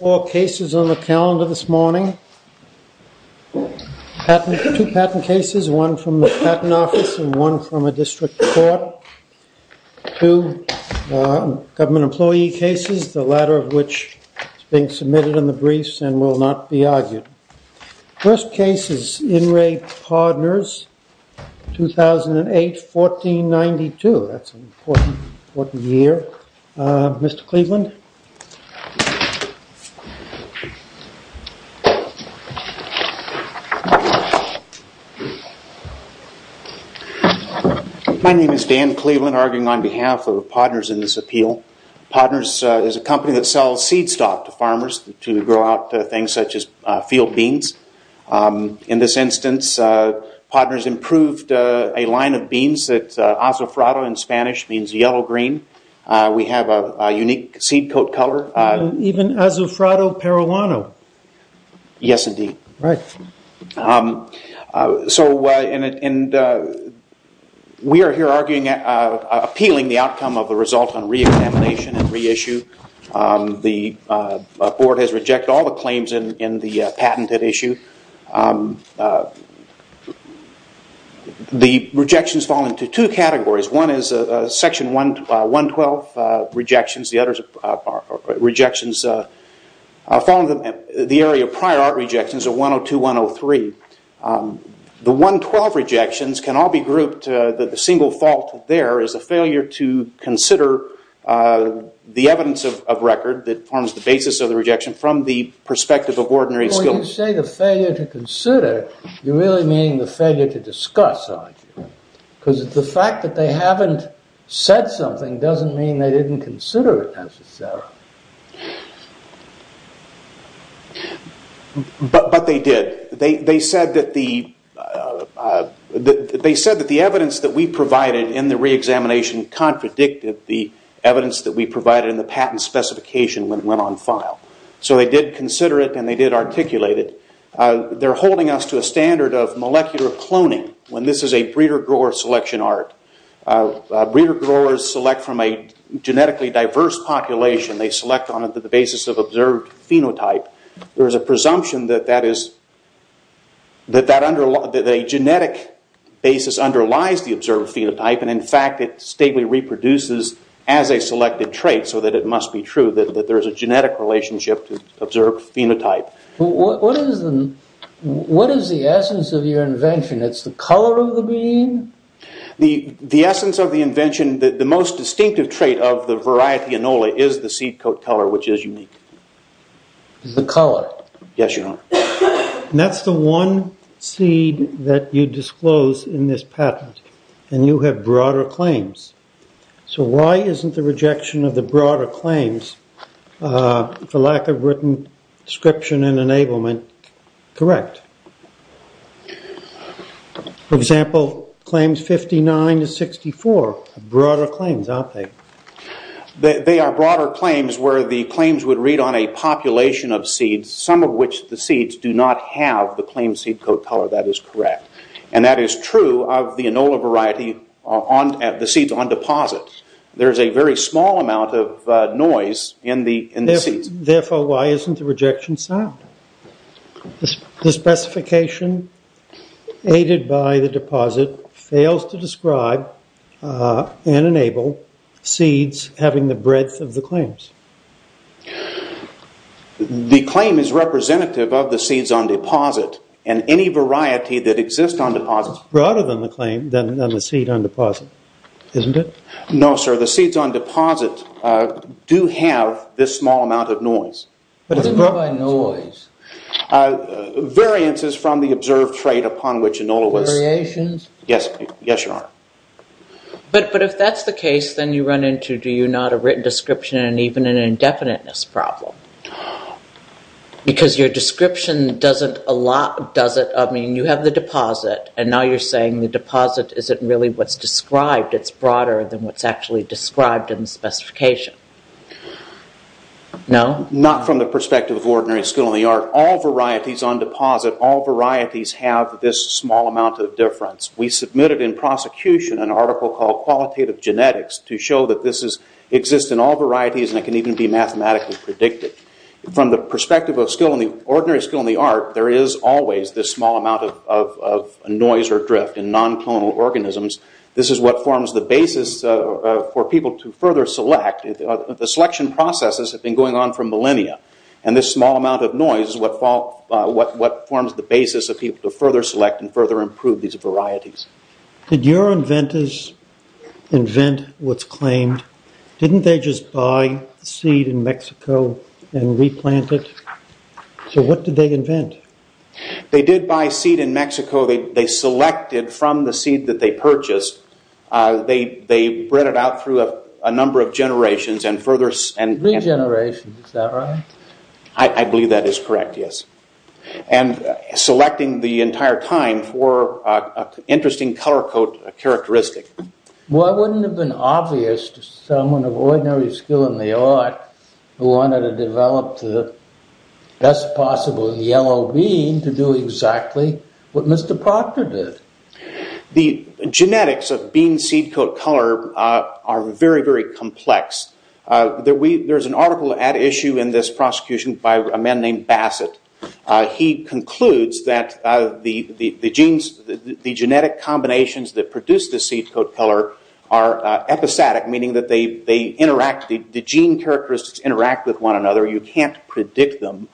Four cases on the calendar this morning. Two patent cases, one from the Patent Office and one from a district court. Two government employee cases, the latter of which is being submitted in the briefs and will not be argued. First case is In Re POD-NERS, 2008, 1492. That's an important year, Mr. Cleveland. My name is Dan Cleveland, arguing on behalf of POD-NERS in this appeal. POD-NERS is a company that sells seed stock to farmers to grow out things such as field beans. In this instance, POD-NERS improved a line of beans that in Spanish means yellow green. We have a unique seed coat color. Even as a Parolano. Yes, indeed. We are here appealing the outcome of the result on re-examination and re-issue. The board has rejected all the claims in the patented issue. The rejections fall into two categories. One is section 112 rejections. The others are rejections following the area of prior art rejections of 102-103. The 112 rejections can all be grouped that the single fault there is a failure to consider the evidence of record that forms the basis of the rejection from the perspective of ordinary skill. When you say the failure to consider, you really mean the failure to discuss. The fact that they haven't said something doesn't mean they didn't consider it necessarily. They did. They said that the evidence that we provided in the re-examination contradicted the evidence that we provided in the patent specification when it went on file. They did consider it and they did articulate it. They're holding us to a standard of molecular cloning when this is a breeder grower selection art. Breeder growers select from a genetically diverse population. They select on the basis of observed phenotype. There is a presumption that a genetic basis underlies the observed phenotype. In fact, it stably reproduces as a selected trait so that it must be true that there is a genetic relationship to observed phenotype. What is the essence of your invention? It's the color of the bean? The essence of the invention, the most distinctive trait of the variety Enola is the seed coat color which is unique. The color? Yes, your honor. That's the one seed that you disclose in this patent and you have broader claims. Why isn't the rejection of the broader claims for lack of written description and enablement correct? For example, claims 59 to 64, broader claims, aren't they? They are broader claims where the claims would read on a population of seeds, some of which the seeds do not have the claimed seed coat color. That is correct. That is true of the seeds on deposit. There is a very small amount of noise in the seeds. Therefore, why isn't the rejection sound? The specification aided by the deposit fails to describe and enable seeds having the breadth of the claims. The claim is representative of the seeds on deposit and any variety that exists on deposit. It's broader than the seed on deposit, isn't it? No, sir. The seeds on deposit do have this small amount of noise. What do you mean by noise? Variances from the observed trait upon which Enola was... Variations? Yes, your honor. But if that's the case, then you run into, do you not, a written description and even an indefiniteness problem. Because your description doesn't allow, you have the deposit and now you're saying the deposit isn't really what's described. It's broader than what's actually described in the specification. No? Not from the perspective of ordinary skill in the art. All varieties on deposit, all varieties have this small amount of difference. We submitted in prosecution an article called qualitative genetics to show that this exists in all varieties and it can even be mathematically predicted. From the perspective of skill in the, ordinary skill in the art, there is always this small amount of noise or drift in non-clonal organisms. This is what forms the basis for people to further select. The selection processes have been going on for millennia and this small amount of noise is what forms the basis of people to further select and further improve these varieties. Did your inventors invent what's claimed? Didn't they just buy seed in Mexico and replant it? So what did they invent? They did buy seed in Mexico. They selected from the seed that they purchased. They bred it out through a number of generations and further... Regeneration, is that right? I believe that is correct, yes. And selecting the entire time for an interesting color code characteristic. Why wouldn't it have been obvious to someone of ordinary skill in the art who wanted to develop the best possible yellow bean to do exactly what Mr. Proctor did? The genetics of bean seed coat color are very, very complex. There is an article at issue in this prosecution by a man named Bassett. He concludes that the genetic combinations that produce the seed coat color are episodic, meaning that the gene characteristics interact with one another. You can't predict them.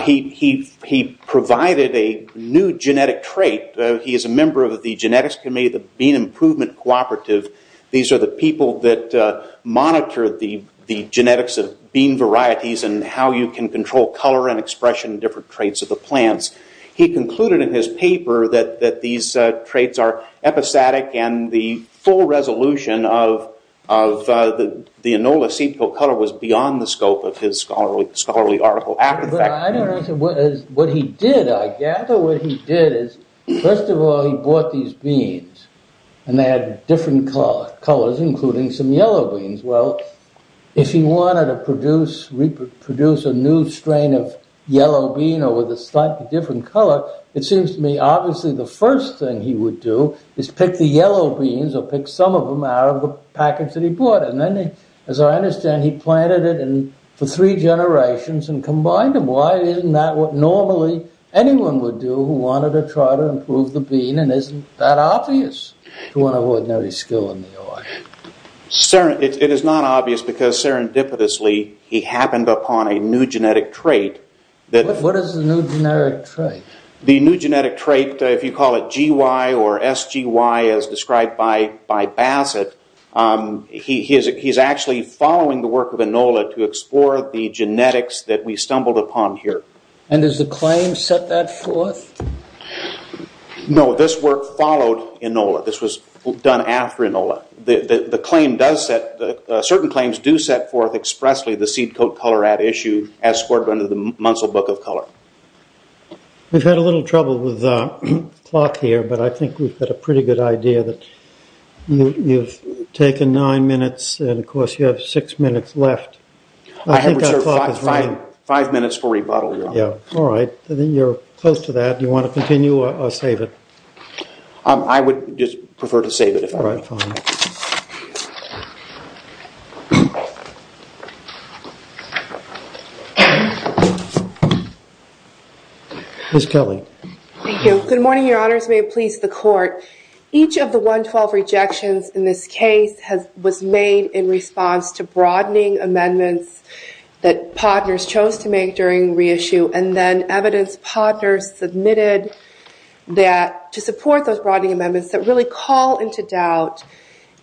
He provided a new genetic trait. He is a member of the genetics committee, the Bean Improvement Cooperative. These are the people that monitor the genetics of bean varieties and how you can control color and expression and different traits of the plants. He concluded in his paper that these traits are episodic and the full resolution of the Enola seed coat color was beyond the scope of his scholarly article. What he did, I gather what he did is, first of all, he bought these beans and they had different colors, including some yellow beans. Well, if he wanted to produce a new strain of yellow bean or with a slightly different color, it seems to me obviously the first thing he would do is pick the yellow beans or pick some of them out of the package that he bought and then, as I understand, he planted it for three generations and combined them. Why isn't that what normally anyone would do who wanted to try to improve the bean and isn't that obvious to one of ordinary skill in the art? It is not obvious because serendipitously he happened upon a new genetic trait. What is the new genetic trait? The new genetic trait, if you call it GY or SGY as described by Bassett, he is actually following the work of Enola to explore the genetics that we stumbled upon here. And does the claim set that forth? No, this work followed Enola. This was done after Enola. Certain claims do set forth expressly the seed coat color at issue as scored under the Munsell Book of Color. We've had a little trouble with the clock here, but I think we've got a pretty good idea that you've taken nine minutes and, of course, you have six minutes left. I have five minutes for rebuttal. Yeah, all right. Then you're close to that. Do you want to continue or save it? I would just prefer to save it. Ms. Kelly. Thank you. Good morning, your honors. May it please the court. Each of the 112 rejections in this case was made in response to broadening amendments that partners chose to make during to support those broadening amendments that really call into doubt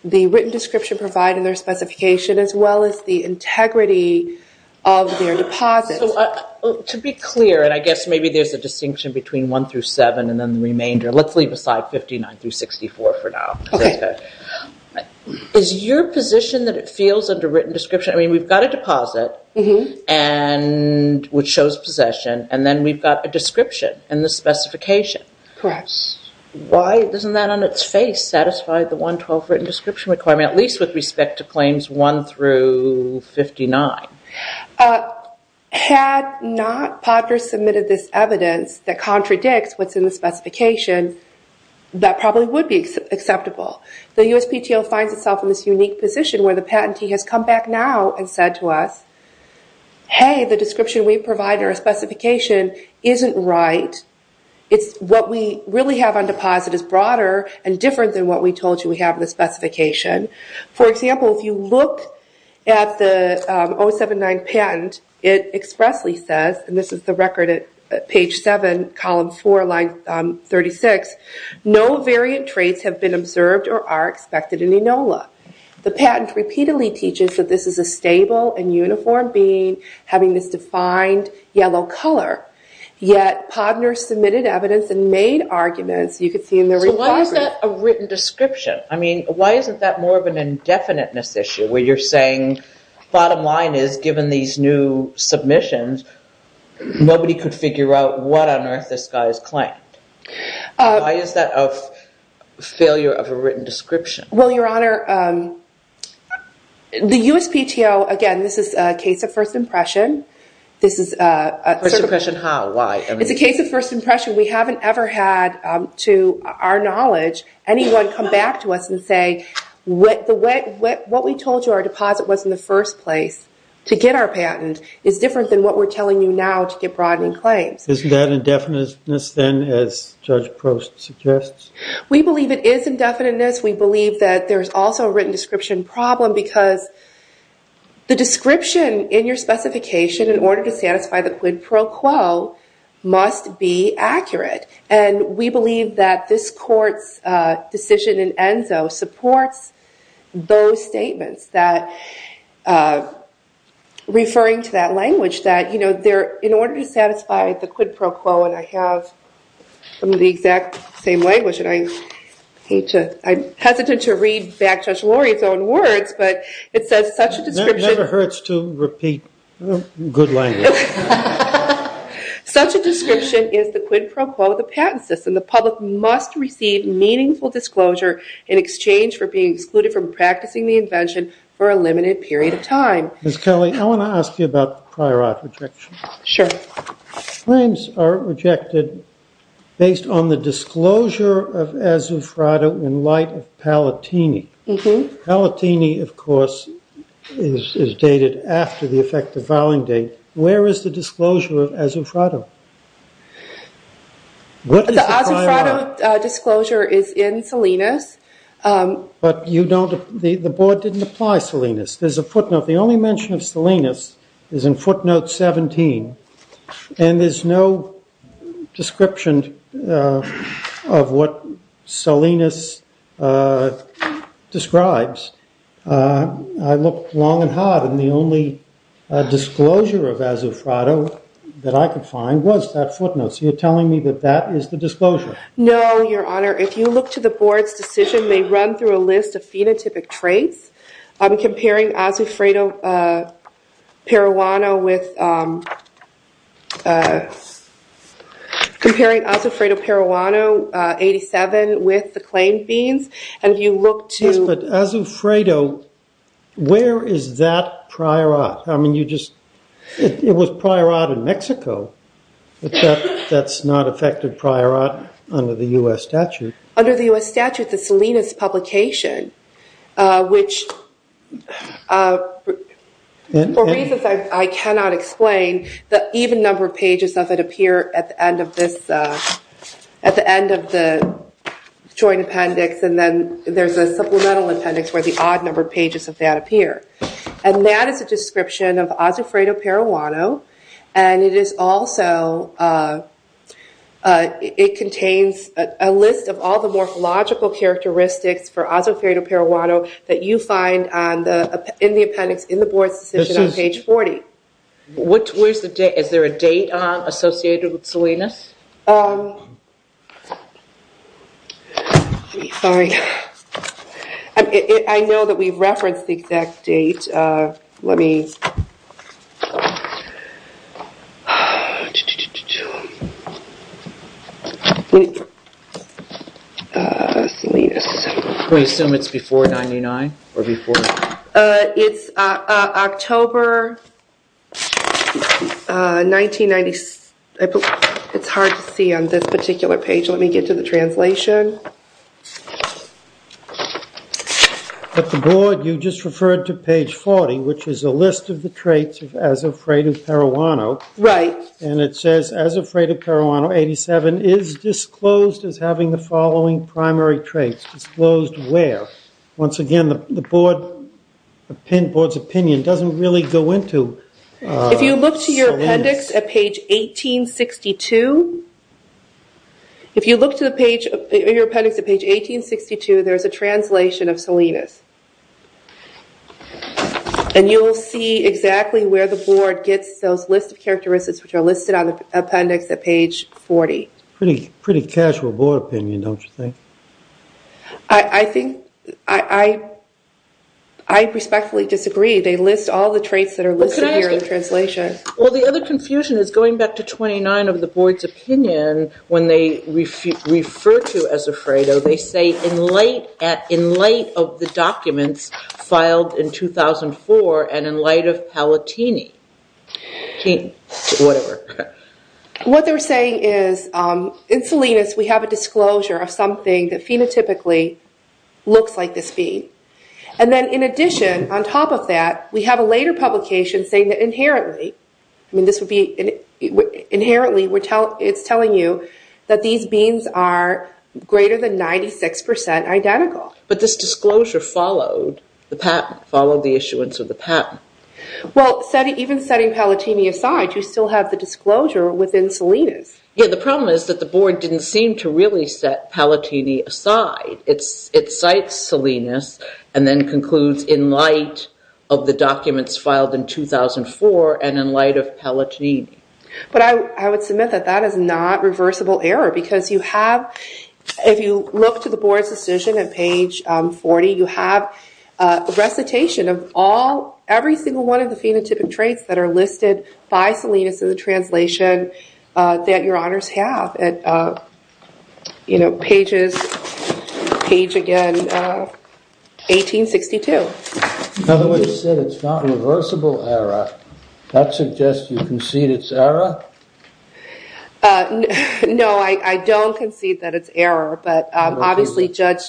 the written description provided in their specification as well as the integrity of their deposits. To be clear, and I guess maybe there's a distinction between one through seven and then the remainder, let's leave aside 59 through 64 for now. Is your position that it feels under written description? I mean, we've got a deposit which shows possession, and then we've got a one. Why doesn't that on its face satisfy the 112 written description requirement, at least with respect to claims one through 59? Had not PODR submitted this evidence that contradicts what's in the specification, that probably would be acceptable. The USPTO finds itself in this unique position where the patentee has come back now and said to us, hey, the description we provide in our specification isn't right. It's what we really have on deposit is broader and different than what we told you we have in the specification. For example, if you look at the 079 patent, it expressly says, and this is the record at page 7, column 4, line 36, no variant traits have been observed or are expected in ENOLA. The patent repeatedly teaches that this is a stable and uniform being having this defined yellow color, yet PODR submitted evidence and made arguments. You could see in the report- So why is that a written description? I mean, why isn't that more of an indefiniteness issue where you're saying, bottom line is given these new submissions, nobody could figure out what on earth this guy has claimed? Why is that a failure of a written description? Well, Your Honor, the USPTO, again, this is a case of first impression. This is a- First impression how? Why? It's a case of first impression. We haven't ever had, to our knowledge, anyone come back to us and say, what we told you our deposit was in the first place to get our patent is different than what we're telling you now to get broadening claims. Isn't that indefiniteness then, as Judge Post suggests? We believe it is indefiniteness. We believe that there's also a written description problem because the description in your specification, in order to satisfy the quid pro quo, must be accurate. And we believe that this court's decision in ENSO supports those statements that, referring to that language, that in order to same language, and I hate to, I'm hesitant to read back Judge Lori's own words, but it says such a description- That never hurts to repeat good language. Such a description is the quid pro quo of the patent system. The public must receive meaningful disclosure in exchange for being excluded from practicing the invention for a limited period of time. Ms. Kelly, I want to ask you about prior art rejection. Sure. Claims are rejected based on the disclosure of Azufrado in light of Palatini. Palatini, of course, is dated after the effective filing date. Where is the disclosure of Azufrado? What is the timeline? The Azufrado disclosure is in Salinas. But you don't, the board didn't apply Salinas. There's a footnote. The only mention of Salinas is in footnote 17. And there's no description of what Salinas describes. I looked long and hard, and the only disclosure of Azufrado that I could find was that footnote. So you're telling me that that is the disclosure? No, Your Honor. If you look to the board's run through a list of phenotypic traits. I'm comparing Azufrado Paraguay with comparing Azufrado Paraguay 87 with the claim beans. And if you look to- Yes, but Azufrado, where is that prior art? I mean, you just, it was prior art in Mexico. That's not effective prior art under the US statute. Under the US statute, the Salinas publication, which for reasons I cannot explain, the even number of pages of it appear at the end of this, at the end of the joint appendix. And then there's a supplemental appendix where the odd number of pages of that appear. And that is a description of Azufrado Paraguay. And it is also, it contains a list of all the morphological characteristics for Azufrado Paraguay that you find in the appendix in the board's decision on page 40. Where's the date? Is there a date on associated with Salinas? Sorry. I know that we referenced the exact date. Let me... Can we assume it's before 99 or before? It's October 1996. It's hard to see on this particular page. Let me get to the translation. At the board, you just referred to page 40, which is a list of the traits of Azufrado Paraguay. And it says, Azufrado Paraguay, 87, is disclosed as having the following primary traits. Disclosed where? Once again, the board's opinion doesn't really go into Salinas. If you look to your appendix at page 1862, there's a translation of Salinas. And you will see exactly where the board gets those characteristics, which are listed on the appendix at page 40. Pretty casual board opinion, don't you think? I respectfully disagree. They list all the traits that are listed here in translation. Well, the other confusion is going back to 29 of the board's opinion, when they refer to Azufrado, they say, in light of the documents filed in 2004 and in light of Palatini. Whatever. What they're saying is, in Salinas, we have a disclosure of something that phenotypically looks like this bean. And then in addition, on top of that, we have a later publication saying inherently, it's telling you that these beans are greater than 96% identical. But this disclosure followed the issuance of the patent. Well, even setting Palatini aside, you still have the disclosure within Salinas. Yeah, the problem is that the board didn't seem to really set Palatini aside. It cites Salinas and then concludes, in light of the documents filed in 2004 and in light of Palatini. But I would submit that that is not reversible error, because if you look to the board's decision at page 40, you have a recitation of every single one of the phenotypic traits that are listed by Salinas in the translation that your honors have at page, again, 1862. In other words, it's not reversible error. That suggests you concede it's error? No, I don't concede that it's error. But obviously, Judge...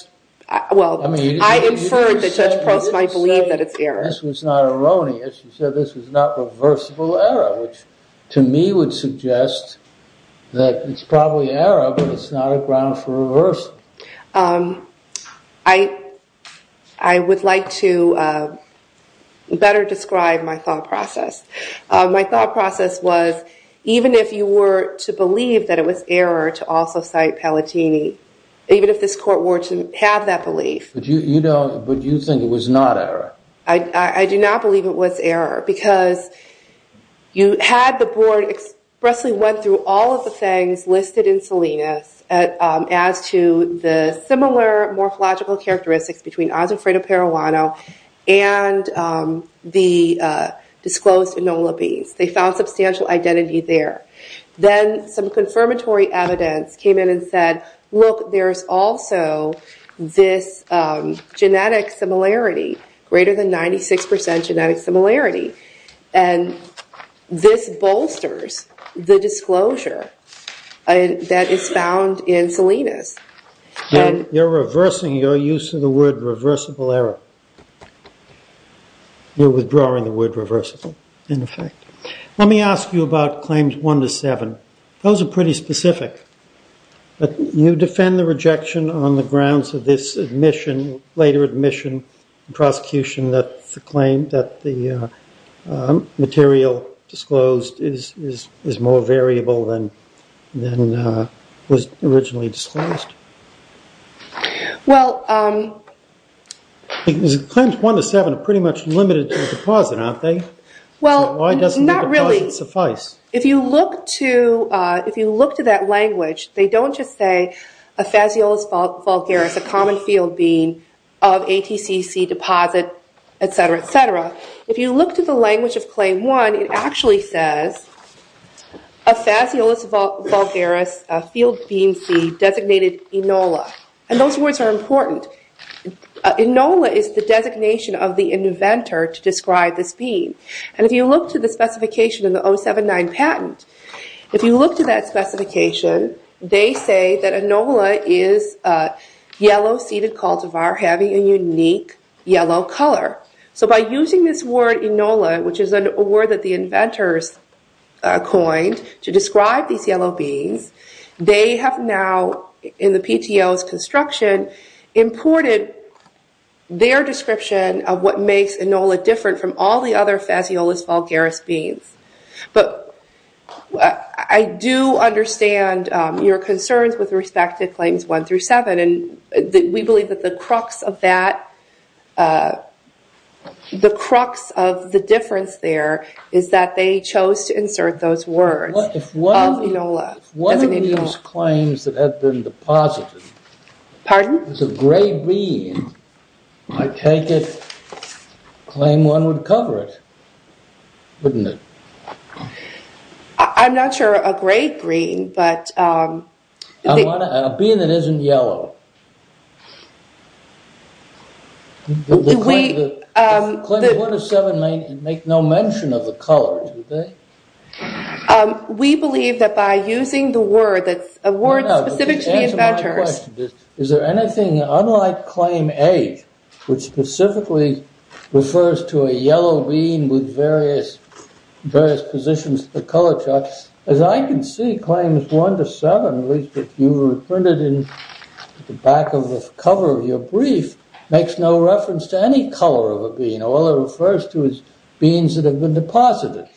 Well, I inferred that Judge Post might believe that it's error. This was not erroneous. You said this was not reversible error, which to me would suggest that it's probably error, but it's not a ground for reversal. I would like to better describe my thought process. My thought process was, even if you were to believe that it was error to also cite Palatini, even if this court were to have that I do not believe it was error, because you had the board expressly went through all of the things listed in Salinas as to the similar morphological characteristics between Osiphrata periwano and the disclosed Enola beans. They found substantial identity there. Then some confirmatory evidence came in and said, look, there's also this genetic similarity greater than 96% genetic similarity. And this bolsters the disclosure that is found in Salinas. You're reversing your use of the word reversible error. You're withdrawing the word reversible, in effect. Let me ask you about claims one to seven. Those are pretty specific, but you defend the rejection on the grounds of this admission, later admission, and prosecution that the claim that the material disclosed is more variable than was originally disclosed. Well, um... Claims one to seven are pretty much limited to the deposit, aren't they? Well, not really. Why doesn't the deposit suffice? If you look to that language, they don't just say a Fasciolis vulgaris, a common field bean, of ATCC deposit, et cetera, et cetera. If you look to the language of claim one, it actually says a Fasciolis vulgaris field bean seed designated Enola. And those words are important. Enola is the designation of the inventor to describe this bean. And if you look to the specification in the 079 patent, if you look to that specification, they say that Enola is a yellow seeded cultivar having a unique yellow color. So by using this word Enola, which is a word that the inventors coined to describe these yellow beans, they have now, in the PTO's construction, imported their description of what makes Enola different from all the other Fasciolis vulgaris beans. But I do understand your concerns with respect to claims one through seven. And we believe that the crux of that, the crux of the difference there is that they chose to insert those words of Enola, designated Enola. If one of those claims that had been deposited- Pardon? It's a gray bean. I take it, claim one would cover it, wouldn't it? I'm not sure a gray green, but- A bean that isn't yellow. Claim one of seven make no mention of the colors, would they? We believe that by using the word that's a word specific to the inventors- Unlike claim eight, which specifically refers to a yellow bean with various positions of the color chart, as I can see claims one to seven, at least if you printed in the back of the cover of your brief, makes no reference to any color of a bean. All it refers to is beans that have been deposited.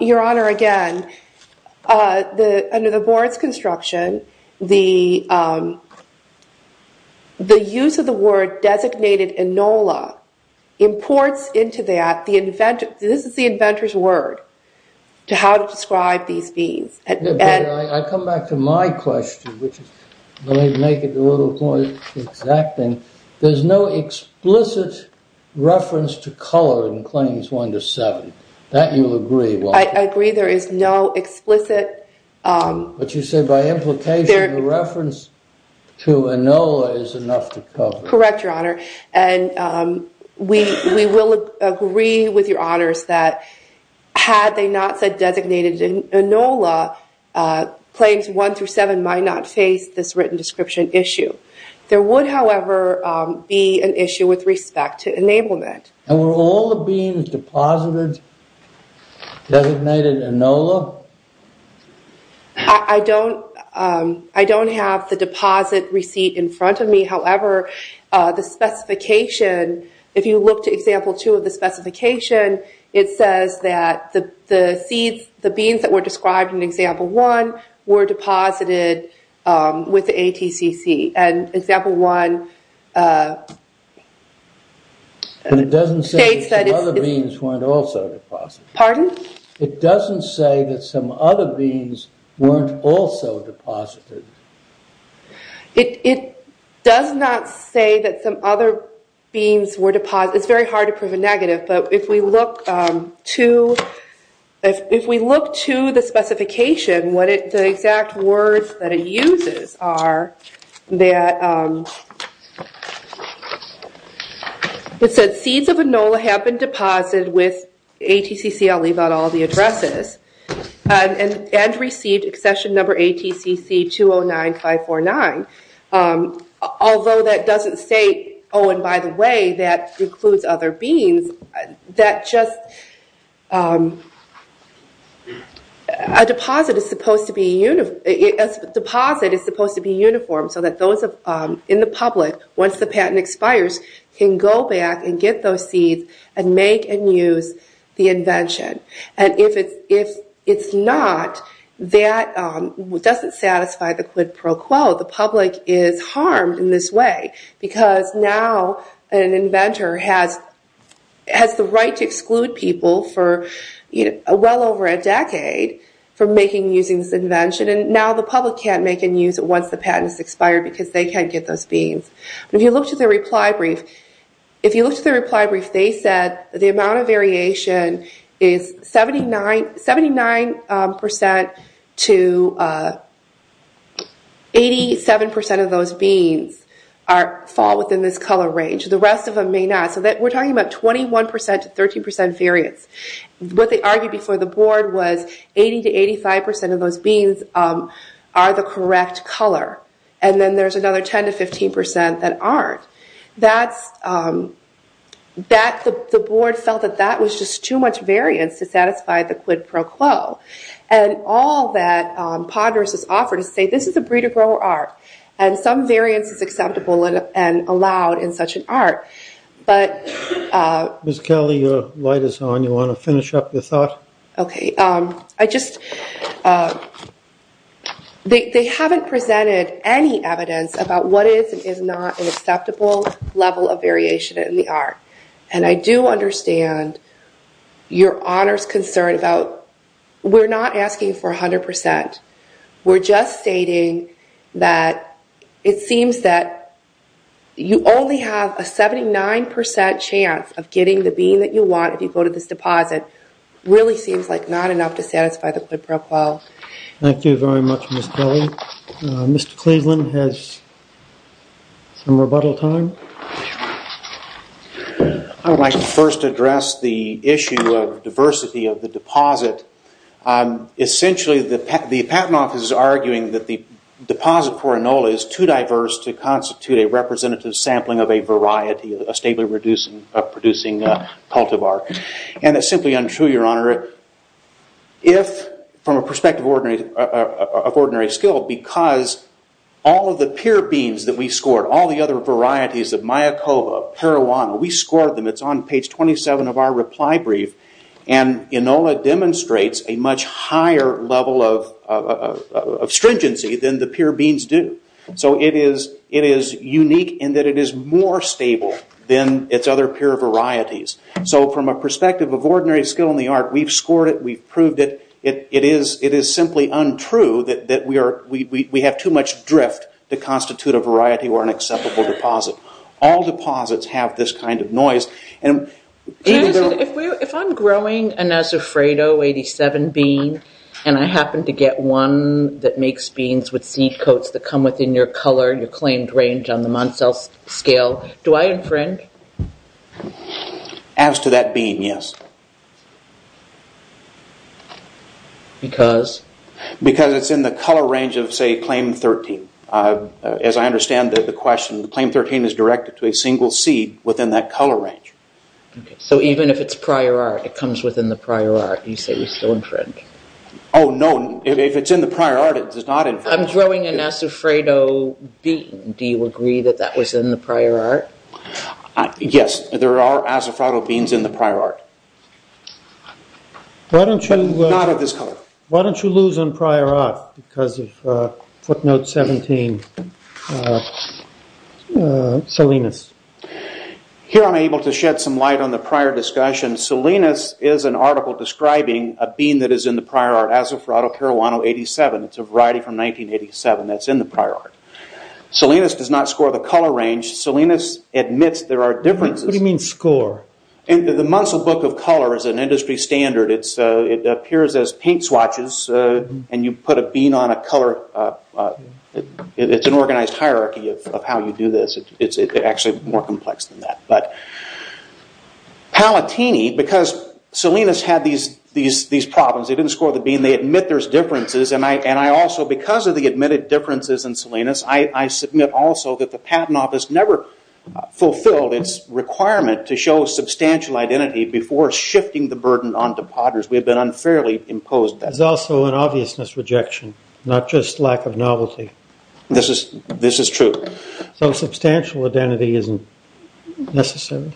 Your Honor, again, under the board's construction, the use of the word designated Enola imports into that, this is the inventor's word, to how to describe these beans. Yeah, but I come back to my question, which is, let me make it a little more exacting. There's no explicit reference to color in claims one to seven. That you'll agree, won't you? I agree there is no explicit- But you say by implication, the reference to Enola is enough to cover. Correct, Your Honor. And we will agree with Your Honors that had they not said designated Enola, claims one through seven might not face this written description issue. There would, however, be an issue with respect to enablement. And were all the beans deposited designated Enola? I don't have the deposit receipt in front of me, however, the specification, if you look to example two of the specification, it says that the seeds, the beans that were described in example one, were deposited with the ATCC. And example one- But it doesn't say that some other beans weren't also deposited. Pardon? It doesn't say that some other beans weren't also deposited. It does not say that some other beans were deposited. It's very hard to prove a negative, but if we look to the specification, the exact words that it uses are that it said seeds of Enola have been deposited with ATCC, I'll leave out all the addresses, and received accession number ATCC 209549. Although that doesn't say, oh and by the way, that includes other beans. A deposit is supposed to be uniform so that those in the public, once the patent expires, can go back and get those seeds and make and use the invention. And if it's not, that doesn't satisfy the quid pro quo. The public is harmed in this way because now an inventor has the right to exclude people for well over a decade from making and using this invention, and now the public can't make and use it once the patent has expired because they can't get those beans. But if you look to the reply brief, if you look to the reply brief, they said the amount of variation is 79% to 87% of those beans fall within this color range. The rest of them may not. So we're talking about 21% to 13% variance. What they argued before the board was 80% to 85% of those beans are the correct color, and then there's another 10% to 15% that aren't. The board felt that that was just too much variance to satisfy the quid pro quo. And all that Ponderous has offered is to say, this is a breed of grower art, and some variance is acceptable and allowed in such an art. But... Ms. Kelly, your light is on. You want to finish up your thought? Okay. They haven't presented any evidence about what is and is not an acceptable level of variation in the art. And I do understand your honor's concern about... We're not asking for 100%. We're just stating that it seems that you only have a 79% chance of getting the bean that you want if you go to this deposit. Really seems like not enough to satisfy the quid pro quo. Thank you very much, Ms. Kelly. Mr. Cleveland has some rebuttal time. I would like to first address the issue of diversity of the deposit. Essentially, the patent office is arguing that the deposit for Enola is too diverse to constitute a representative sampling of a variety, a stably producing cultivar. And it's simply untrue, your honor. If, from a perspective of ordinary skill, because all of the pure beans that we scored, all the other varieties of Mayakova, Parijuana, we scored them. It's on page 27 of our reply brief. And Enola demonstrates a much higher level of stringency than the pure beans do. So it is unique in that it is more stable than its other pure varieties. So from a perspective of ordinary skill in the art, we've scored it, we've proved it. It is simply untrue that we have too much drift to constitute a variety or an acceptable deposit. All deposits have this kind of noise. If I'm growing a Nazafredo 87 bean and I happen to get one that makes beans with seed coats that come within your color, your claimed range on the Yes. Because? Because it's in the color range of, say, claim 13. As I understand the question, claim 13 is directed to a single seed within that color range. So even if it's prior art, it comes within the prior art. You say we still infringe? Oh, no. If it's in the prior art, it does not infringe. I'm growing a Nazafredo bean. Do you agree that that was in the prior art? Yes. There are Nazafredo beans in the prior art. Why don't you lose on prior art because of footnote 17, Salinas? Here I'm able to shed some light on the prior discussion. Salinas is an article describing a bean that is in the prior art, Nazafredo Caruana 87. It's a variety from 1987 that's in the prior art. Salinas does not score the color range. Salinas admits there are differences. What do you mean score? The Munsell Book of Color is an industry standard. It appears as paint swatches and you put a bean on a color. It's an organized hierarchy of how you do this. It's actually more complex than that. Palatini, because Salinas had these problems, didn't score the bean, they admit there's differences. Because of the admitted differences in Salinas, I submit also that the Patent Office never fulfilled its requirement to show substantial identity before shifting the burden onto potters. We have been unfairly imposed that. There's also an obviousness rejection, not just lack of novelty. This is true. Substantial identity isn't necessary.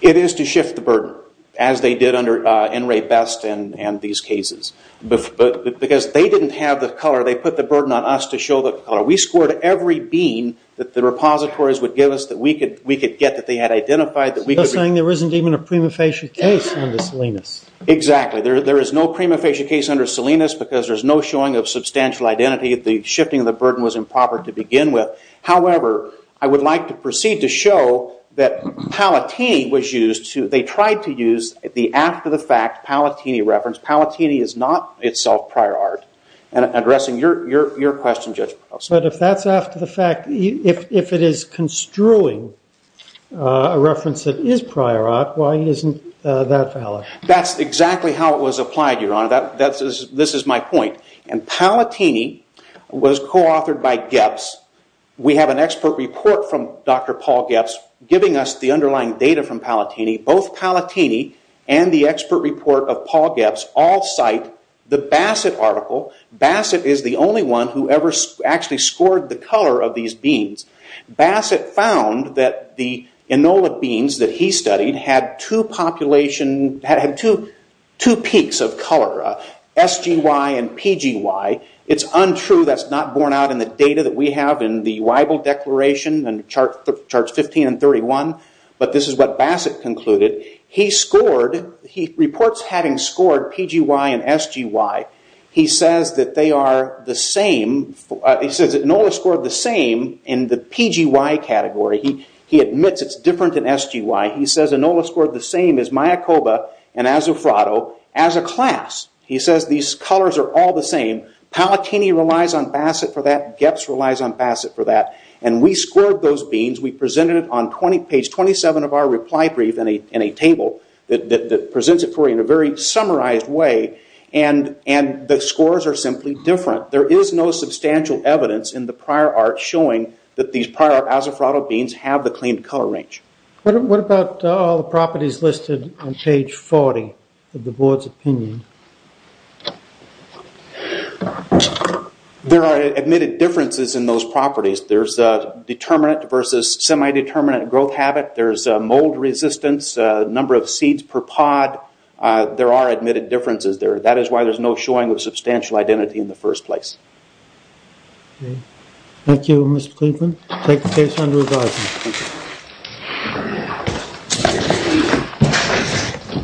It is to shift the burden, as they did under N. Ray Best and these cases. Because they didn't have the color, they put the burden on us to show the color. We scored every bean that the repositories would give us that we could get that they had identified. You're saying there isn't even a prima facie case under Salinas. Exactly. There is no prima facie case under Salinas because there's no showing of substantial identity. The shifting of the burden was improper to begin with. However, I would like to proceed to show that Palatini was used to, they tried to use the after the fact Palatini reference. Palatini is not itself prior art. And addressing your question, Judge Prosser. But if that's after the fact, if it is construing a reference that is prior art, why isn't that valid? That's exactly how it was applied, Your Honor. This is my point. And Palatini was co-authored by Gebbs. We have an expert report from Dr. Paul Gebbs giving us the underlying data from Palatini. Both Palatini and the expert report of Paul Gebbs all cite the Bassett article. Bassett is the only one who ever actually scored the color of these beans. Bassett found that the Enola beans that he studied had two peaks of color, SGY and PGY. It's untrue. That's not borne out in the data that we have in the Weibel Declaration charts 15 and 31. But this is what Bassett concluded. He scored, he reports having scored PGY and SGY. He says that they are the same, he says Enola scored the same in the PGY category. He admits it's different in SGY. He says Enola scored the same as Mayakoba and Azufrado as a class. He says these colors are all the same. Palatini relies on Bassett for that. Gebbs relies on Bassett for that. We scored those beans. We presented it on page 27 of our reply brief in a table that presents it for you in a very summarized way. The scores are simply different. There is no substantial evidence in the prior art showing that these prior Azufrado beans have the claimed color range. What about all the properties listed on page 40 of the board's opinion? There are admitted differences in those properties. There's a determinant versus semi-determinant growth habit. There's mold resistance, number of seeds per pod. There are admitted differences there. That is why there's no showing of substantial identity in the first place. Thank you, Mr. Cleveland. Take the case under authorization.